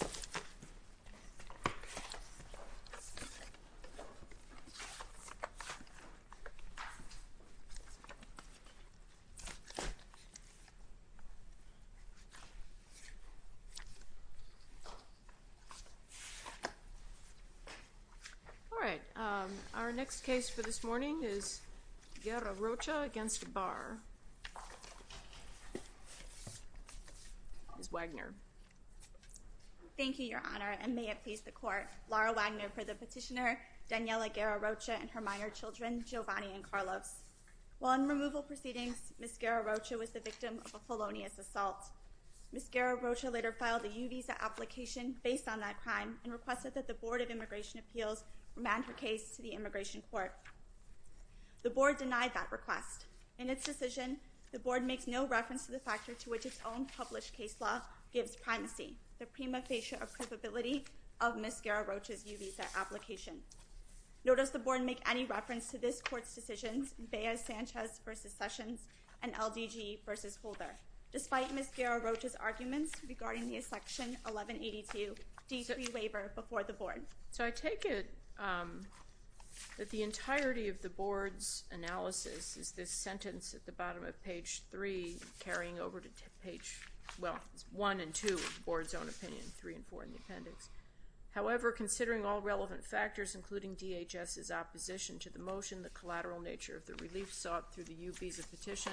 All right, our next case for this morning is Guerra-Rocha v. Barr. Ms. Wagner Thank you, Your Honor, and may it please the Court, Laura Wagner for the petitioner Daniela Guerra-Rocha and her minor children Giovanni and Carlos. While in removal proceedings, Ms. Guerra-Rocha was the victim of a felonious assault. Ms. Guerra-Rocha later filed a U-Visa application based on that crime and requested that the Board of Immigration Appeals remand her case to the Immigration Court. The Board denied that request. In its decision, the Board makes no reference to the factor to which its own published case law gives primacy, the prima facie approvability of Ms. Guerra-Rocha's U-Visa application. Nor does the Board make any reference to this Court's decisions, Beas-Sanchez v. Sessions and LDG v. Holder, despite Ms. Guerra-Rocha's arguments regarding the Section 1182 D3 waiver before the Board. So I take it that the entirety of the Board's analysis is this sentence at the bottom of page 3 carrying over to page 1 and 2 of the Board's own opinion, 3 and 4 in the appendix. However, considering all relevant factors, including DHS's opposition to the motion, the collateral nature of the relief sought through the U-Visa petition,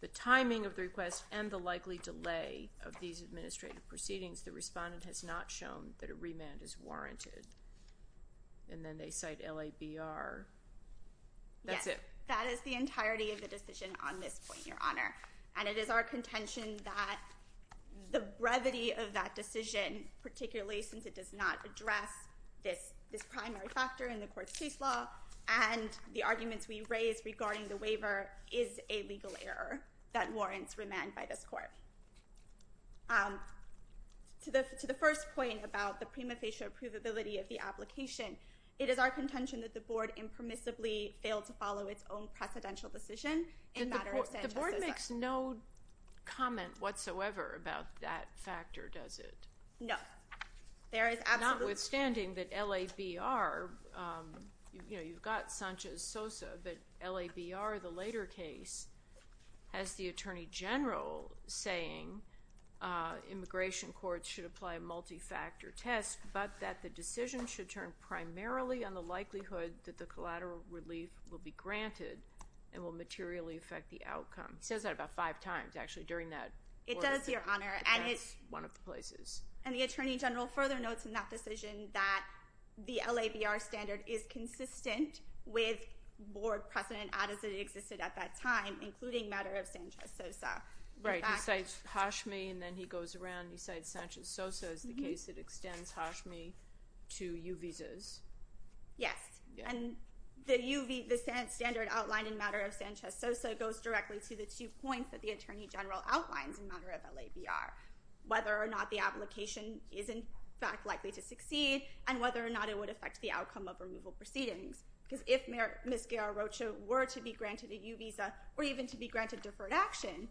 the timing of the request, and the likely delay of these administrative proceedings, the respondent has not shown that a remand is warranted. And then they cite LABR. That's it. Yes. That is the entirety of the decision on this point, Your Honor, and it is our contention that the brevity of that decision, particularly since it does not address this primary factor in the Court's case law, and the arguments we raise regarding the waiver is a legal error that warrants remand by this Court. So, to the first point about the prima facie approvability of the application, it is our contention that the Board impermissibly failed to follow its own precedential decision in matter of Sanchez-Sosa. The Board makes no comment whatsoever about that factor, does it? No. Notwithstanding that LABR, you know, you've got Sanchez-Sosa, but LABR, the later case, has the Attorney General saying immigration courts should apply a multi-factor test, but that the decision should turn primarily on the likelihood that the collateral relief will be granted and will materially affect the outcome. It says that about five times, actually, during that order. It does, Your Honor. And it's one of the places. And the Attorney General further notes in that decision that the LABR standard is consistent with Board precedent as it existed at that time, including matter of Sanchez-Sosa. Right. He cites Hashmi, and then he goes around and he cites Sanchez-Sosa as the case that extends Hashmi to U visas. Yes. And the U visa standard outlined in matter of Sanchez-Sosa goes directly to the two points that the Attorney General outlines in matter of LABR, whether or not the application is, in fact, likely to succeed and whether or not it would affect the outcome of removal proceedings. Because if Ms. Guerra-Rocha were to be granted a U visa or even to be granted deferred action,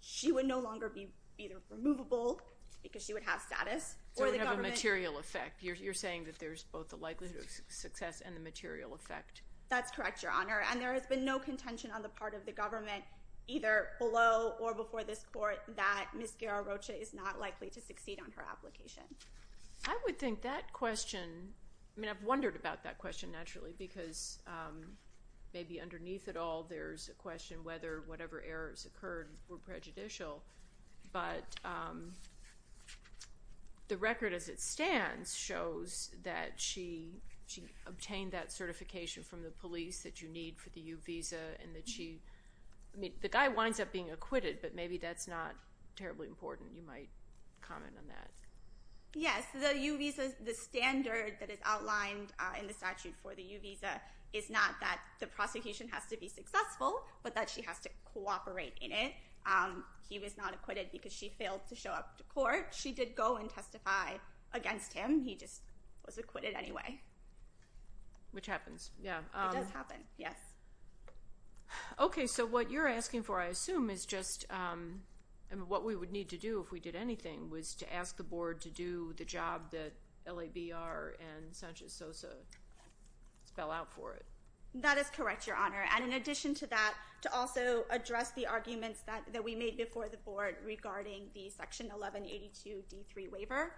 she would no longer be either removable, because she would have status, or the government— So it would have a material effect. You're saying that there's both the likelihood of success and the material effect. That's correct, Your Honor. And there has been no contention on the part of the government, either below or before this court, that Ms. Guerra-Rocha is not likely to succeed on her application. I would think that question—I mean, I've wondered about that question, naturally, because maybe underneath it all, there's a question whether whatever errors occurred were prejudicial. But the record as it stands shows that she obtained that certification from the police that you need for the U visa and that she—I mean, the guy winds up being acquitted, but maybe that's not terribly important. You might comment on that. Yes, the U visa—the standard that is outlined in the statute for the U visa is not that the prosecution has to be successful, but that she has to cooperate in it. He was not acquitted because she failed to show up to court. She did go and testify against him. He just was acquitted anyway. Which happens, yeah. It does happen, yes. Okay, so what you're asking for, I assume, is just—I mean, what we would need to do if we did anything was to ask the board to do the job that LABR and Sanchez-Sosa spell out for it. That is correct, Your Honor, and in addition to that, to also address the arguments that we made before the board regarding the Section 1182 D.3 waiver.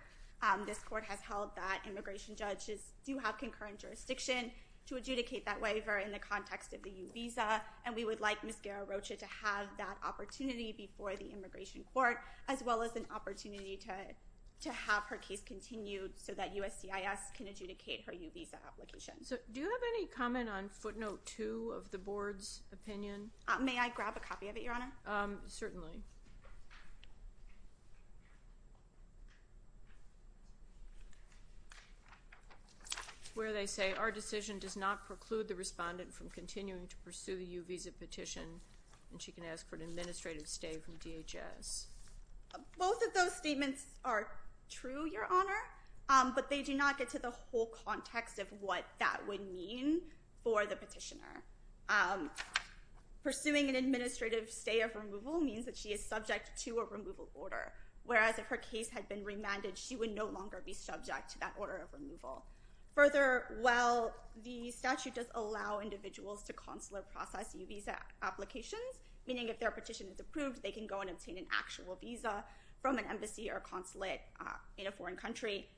This court has held that immigration judges do have concurrent jurisdiction to adjudicate that waiver in the context of the U visa, and we would like Ms. Guerra-Rocha to have that opportunity before the immigration court, as well as an opportunity to have her case continued so that USCIS can adjudicate her U visa application. So do you have any comment on footnote 2 of the board's opinion? May I grab a copy of it, Your Honor? Certainly. Where they say, our decision does not preclude the respondent from continuing to pursue the U visa petition, and she can ask for an administrative stay from DHS. Both of those statements are true, Your Honor, but they do not get to the whole context of what that would mean for the petitioner. Pursuing an administrative stay of removal means that she is subject to a removal order, whereas if her case had been remanded, she would no longer be subject to that order of removal. Further, while the statute does allow individuals to consular process U visa applications, meaning if their petition is approved, they can go and obtain an actual visa from an embassy or consulate in a foreign country,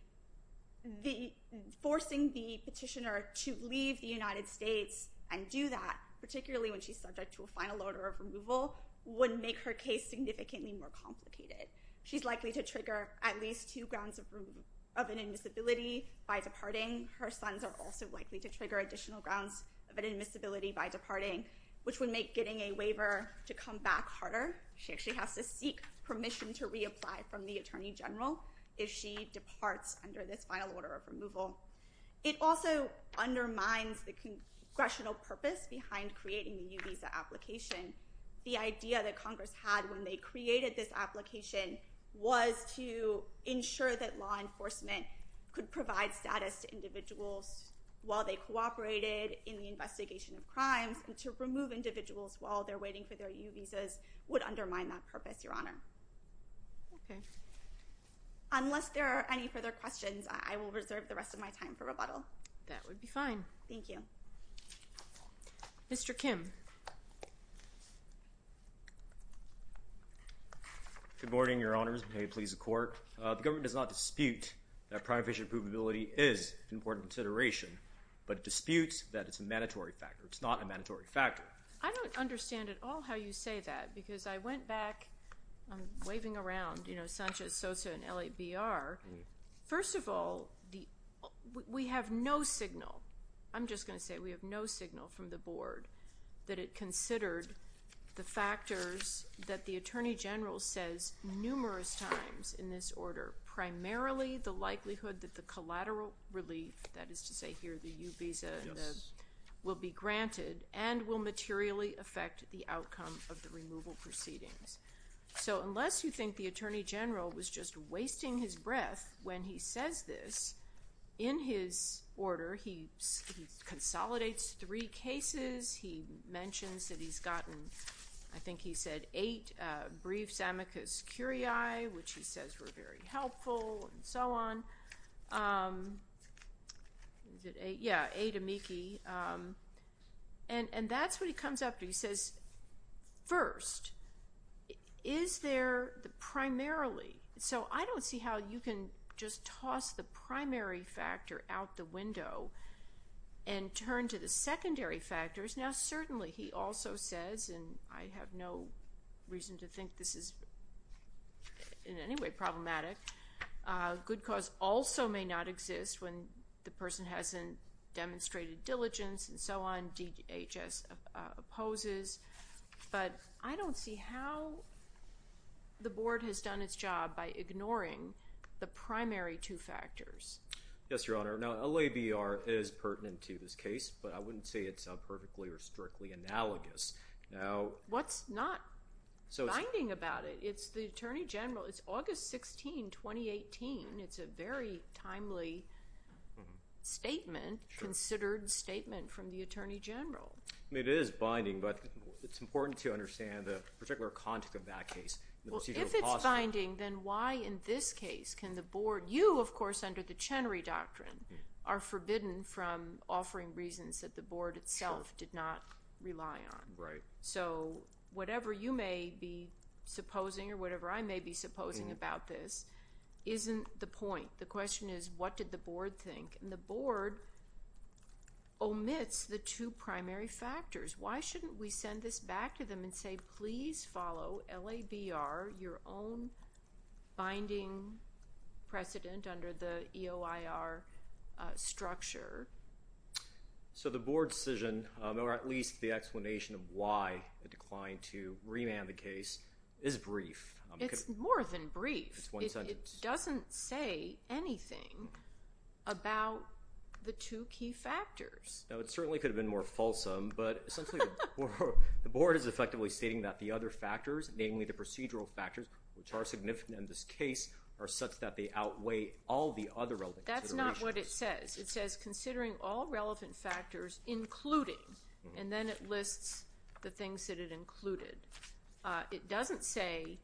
forcing the petitioner to leave the United States and do that, particularly when she's subject to a final order of removal, would make her case significantly more complicated. She's likely to trigger at least two grounds of inadmissibility by departing. Her sons are also likely to trigger additional grounds of inadmissibility by departing, which would make getting a waiver to come back harder. She actually has to seek permission to reapply from the attorney general if she departs under this final order of removal. It also undermines the congressional purpose behind creating the U visa application. The idea that Congress had when they created this application was to ensure that law enforcement could provide status to individuals while they cooperated in the investigation of crimes, and to remove individuals while they're waiting for their U visas would undermine that purpose, Your Honor. Okay. Unless there are any further questions, I will reserve the rest of my time for rebuttal. That would be fine. Thank you. Mr. Kim. Good morning, Your Honors. May it please the Court. The government does not dispute that prime visa approvability is an important consideration, but disputes that it's a mandatory factor. It's not a mandatory factor. I don't understand at all how you say that, because I went back, I'm waving around, you know, Sanchez, Sosa, and LABR. First of all, we have no signal. I'm just going to say we have no signal from the board that it considered the factors that the attorney general says numerous times in this order, primarily the likelihood that the collateral relief, that is to say here the U visa, will be granted and will materially affect the outcome of the removal proceedings. So unless you think the attorney general was just wasting his breath when he says this, in his order, he consolidates three cases. He mentions that he's gotten, I think he said, eight briefs amicus curiae, which he says were very helpful and so on. Yeah, eight amici. And that's what he comes up, he says, first, is there the primarily? So I don't see how you can just toss the primary factor out the window and turn to the secondary factors. Now, certainly, he also says, and I have no reason to think this is in any way problematic, good cause also may not exist when the person hasn't demonstrated diligence and so on, DHS opposes. But I don't see how the board has done its job by ignoring the primary two factors. Yes, Your Honor. Now, LABR is pertinent to this case, but I wouldn't say it's perfectly or strictly analogous. What's not binding about it? It's the Attorney General. It's August 16, 2018. It's a very timely statement, considered statement from the Attorney General. I mean, it is binding, but it's important to understand the particular context of that case. Well, if it's binding, then why, in this case, can the board, you, of course, under the Chenery Doctrine are forbidden from offering reasons that the board itself did not rely on. Right. So, whatever you may be supposing or whatever I may be supposing about this isn't the point. The question is, what did the board think? And the board omits the two primary factors. Why shouldn't we send this back to them and say, please follow LABR, your own binding precedent under the EOIR structure? So, the board's decision, or at least the explanation of why it declined to remand the case, is brief. It's more than brief. It's one sentence. It doesn't say anything about the two key factors. Now, it certainly could have been more fulsome, but essentially, the board is effectively stating that the other factors, namely the procedural factors, which are significant in this case, are such that they outweigh all the other relevant considerations. That's not what it says. It says, considering all relevant factors, including, and then it lists the things that it included. It doesn't say,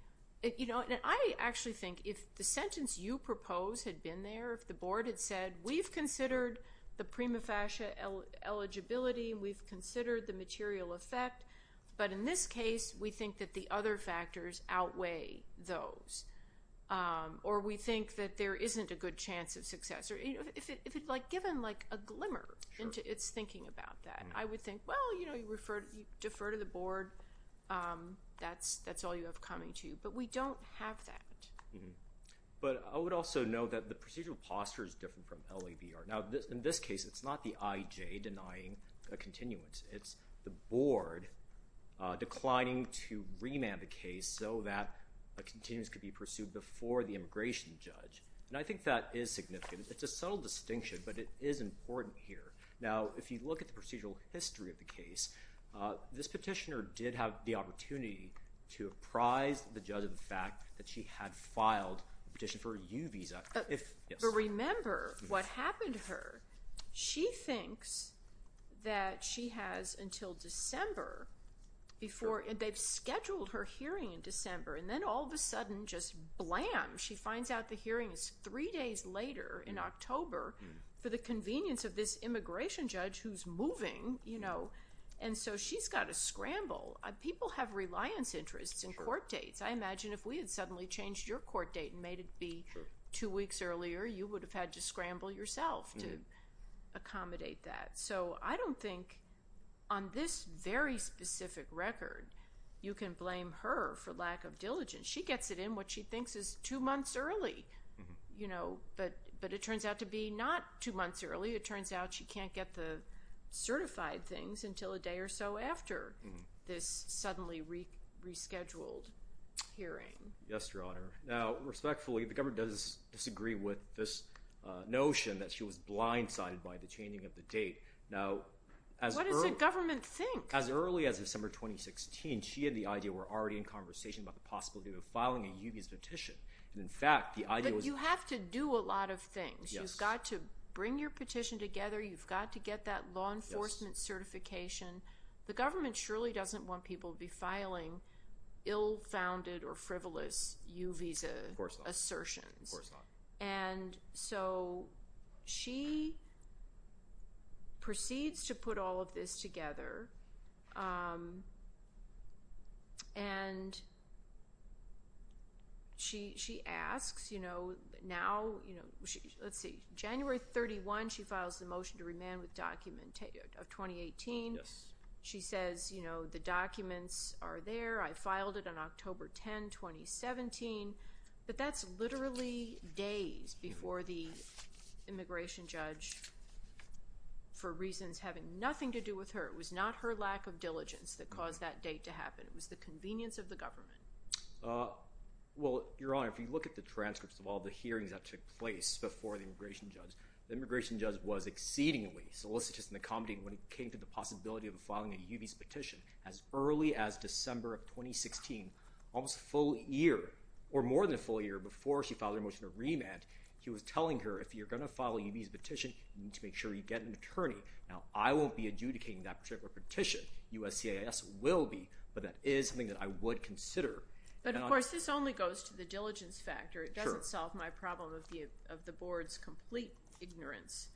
you know, and I actually think if the sentence you propose had been there, if the board had said, we've considered the prima facie eligibility, we've considered the material effect, but in this case, we think that the other factors outweigh those, or we think that there isn't a good chance of success. If it, like, given, like, a glimmer into its thinking about that, I would think, well, you know, you refer, you defer to the board, that's all you have coming to you, but we don't have that. But I would also note that the procedural posture is different from LABR. Now, in this case, it's not the IJ denying a continuance. It's the board declining to remand the case so that a continuance could be pursued before the immigration judge, and I think that is significant. It's a subtle distinction, but it is important here. Now, if you look at the procedural history of the case, this petitioner did have the opportunity to apprise the judge of the fact that she had filed a petition for a U visa. If, yes. But remember what happened to her. She thinks that she has until December before, and they've scheduled her hearing in December, and then all of a sudden, just blam, she finds out the hearing is three days later in October for the convenience of this immigration judge who's moving, you know, and so she's got to scramble. People have reliance interests in court dates. I imagine if we had suddenly changed your court date and made it be two weeks earlier, you would have had to scramble yourself to accommodate that. So I don't think on this very specific record, you can blame her for lack of diligence. She gets it in what she thinks is two months early, you know, but it turns out to be not two months early. It turns out she can't get the certified things until a day or so after this suddenly rescheduled hearing. Yes, Your Honor. Now, respectfully, the government does disagree with this notion that she was blindsided by the changing of the date. Now, as early— What does the government think? As early as December 2016, she had the idea we're already in conversation about the filing of a U visa petition, and in fact, the idea was— But you have to do a lot of things. You've got to bring your petition together. You've got to get that law enforcement certification. The government surely doesn't want people to be filing ill-founded or frivolous U visa assertions. Of course not. Of course not. And so she proceeds to put all of this together, and she asks, you know, now—let's see. January 31, she files the motion to remand with documentation of 2018. Yes. She says, you know, the documents are there. I filed it on October 10, 2017, but that's literally days before the immigration judge, for reasons having nothing to do with her—it was not her lack of diligence that caused that date to happen. It was the convenience of the government. Well, Your Honor, if you look at the transcripts of all the hearings that took place before the immigration judge, the immigration judge was exceedingly solicitous and accommodating when it came to the possibility of filing a U visa petition as early as December of 2016, almost a full year, or more than a full year before she filed her motion to remand. He was telling her, if you're going to file a U visa petition, you need to make sure you get an attorney. Now, I won't be adjudicating that particular petition. USCIS will be, but that is something that I would consider. But of course, this only goes to the diligence factor. It doesn't solve my problem of the board's complete ignorance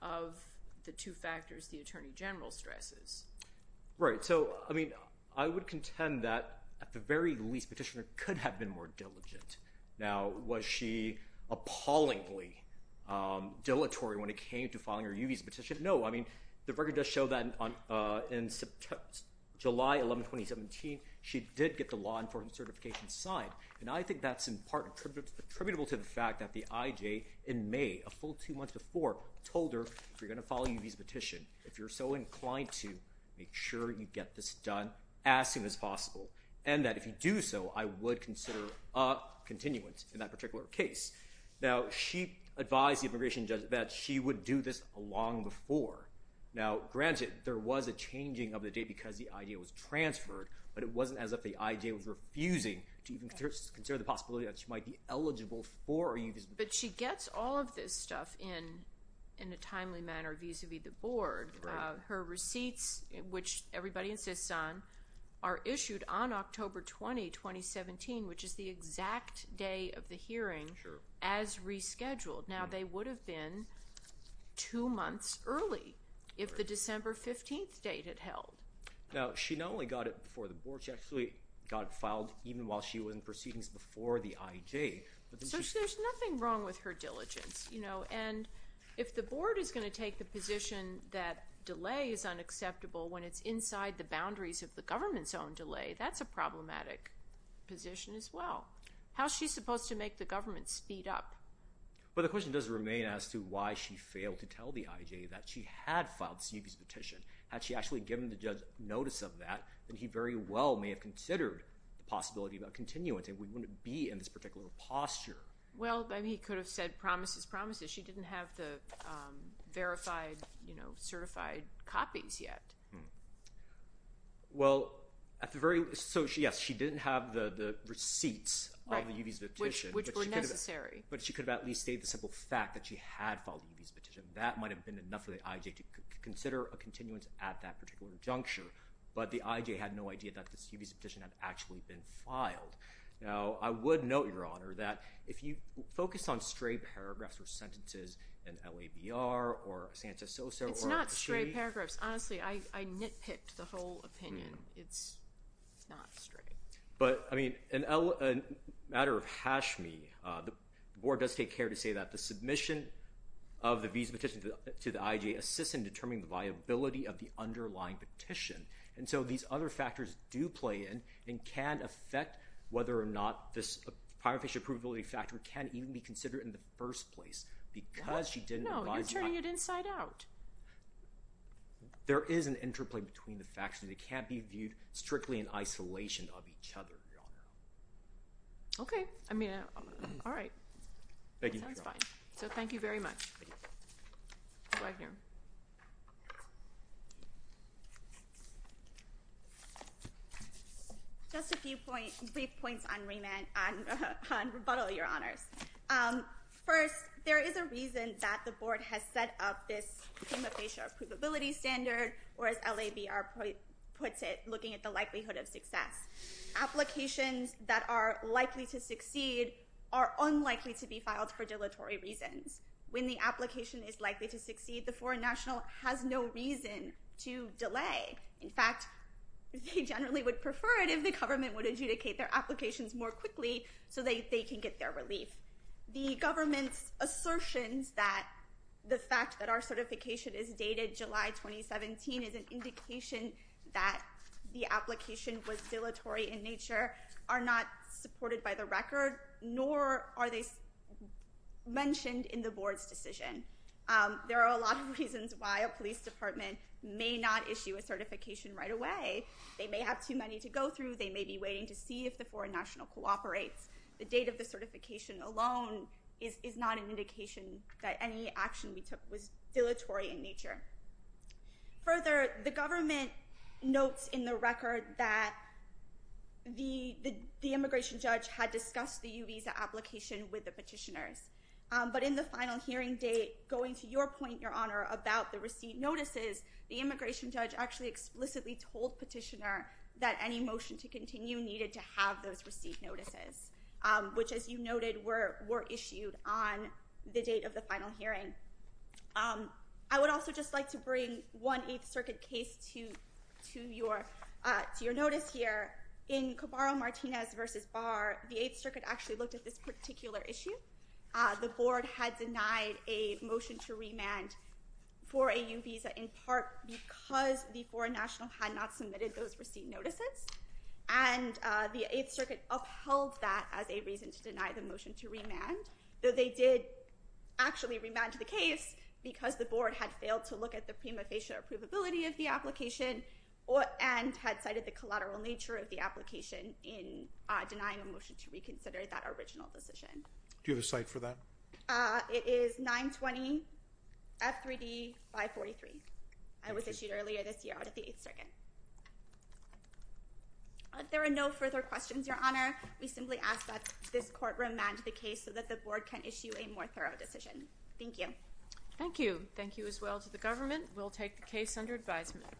of the two factors, the attorney general stresses. Right. So, I mean, I would contend that, at the very least, the petitioner could have been more diligent. Now, was she appallingly dilatory when it came to filing her U visa petition? No. I mean, the record does show that in July 11, 2017, she did get the law enforcement certification signed. And I think that's in part attributable to the fact that the IJ in May, a full two months before, told her, if you're going to file a U visa petition, if you're so inclined to, make sure you get this done as soon as possible. And that if you do so, I would consider a continuance in that particular case. Now, she advised the immigration judge that she would do this long before. Now, granted, there was a changing of the date because the IJ was transferred, but it wasn't as if the IJ was refusing to even consider the possibility that she might be eligible for a U visa petition. But she gets all of this stuff in a timely manner vis-a-vis the board. Her receipts, which everybody insists on, are issued on October 20, 2017, which is the exact day of the hearing as rescheduled. Now, they would have been two months early if the December 15 date had held. Now, she not only got it before the board. She actually got it filed even while she was in proceedings before the IJ. So there's nothing wrong with her diligence. And if the board is going to take the position that delay is unacceptable when it's inside the boundaries of the government's own delay, that's a problematic position as well. How is she supposed to make the government speed up? Well, the question does remain as to why she failed to tell the IJ that she had filed a U visa petition. Had she actually given the judge notice of that, then he very well may have considered the possibility of a continuance. And we wouldn't be in this particular posture. Well, then he could have said promises, promises. She didn't have the verified, you know, certified copies yet. Well, at the very least, so yes, she didn't have the receipts of the U visa petition. Which were necessary. But she could have at least stated the simple fact that she had filed a U visa petition. That might have been enough for the IJ to consider a continuance at that particular juncture. But the IJ had no idea that this U visa petition had actually been filed. Now, I would note, Your Honor, that if you focus on stray paragraphs or sentences in LABR or Santa Sosa. It's not stray paragraphs. Honestly, I nitpicked the whole opinion. It's not stray. But, I mean, in a matter of Hashmi, the board does take care to say that the submission of the visa petition to the IJ assists in determining the viability of the underlying petition. And so these other factors do play in and can affect whether or not this prior fish approvability factor can even be considered in the first place. Because she didn't. No, you're turning it inside out. There is an interplay between the facts and they can't be viewed strictly in isolation of each other, Your Honor. Okay. I mean, all right. Thank you, Your Honor. So thank you very much. Thank you. Just a few brief points on rebuttal, Your Honors. First, there is a reason that the board has set up this prima facie approvability standard or as LABR puts it, looking at the likelihood of success. Applications that are likely to succeed are unlikely to be filed for dilatory reasons. When the application is likely to succeed, the foreign national has no reason to delay In fact, they generally would prefer it if the government would adjudicate their applications more quickly so that they can get their relief. The government's assertions that the fact that our certification is dated July 2017 is an indication that the application was dilatory in nature are not supported by the record, nor are they mentioned in the board's decision. There are a lot of reasons why a police department may not issue a certification right away. They may have too many to go through. They may be waiting to see if the foreign national cooperates. The date of the certification alone is not an indication that any action we took was dilatory in nature. Further, the government notes in the record that the immigration judge had discussed the U visa application with the petitioners. But in the final hearing date, going to your point, Your Honor, about the receipt notices, the immigration judge actually explicitly told petitioner that any motion to continue needed to have those receipt notices, which, as you noted, were issued on the date of the final hearing. I would also just like to bring one 8th Circuit case to your notice here. In Cabarro-Martinez v. Barr, the 8th Circuit actually looked at this particular issue. The board had denied a motion to remand for a U visa in part because the foreign national had not submitted those receipt notices. And the 8th Circuit upheld that as a reason to deny the motion to remand, though they did actually remand the case because the board had failed to look at the prima facie approvability of the application and had cited the collateral nature of the application in denying a motion to reconsider that original decision. Do you have a cite for that? It is 920 F3D 543. It was issued earlier this year out of the 8th Circuit. There are no further questions, Your Honor. We simply ask that this court remand the case so that the board can issue a more thorough decision. Thank you. Thank you. Thank you as well to the government. We'll take the case under advisement.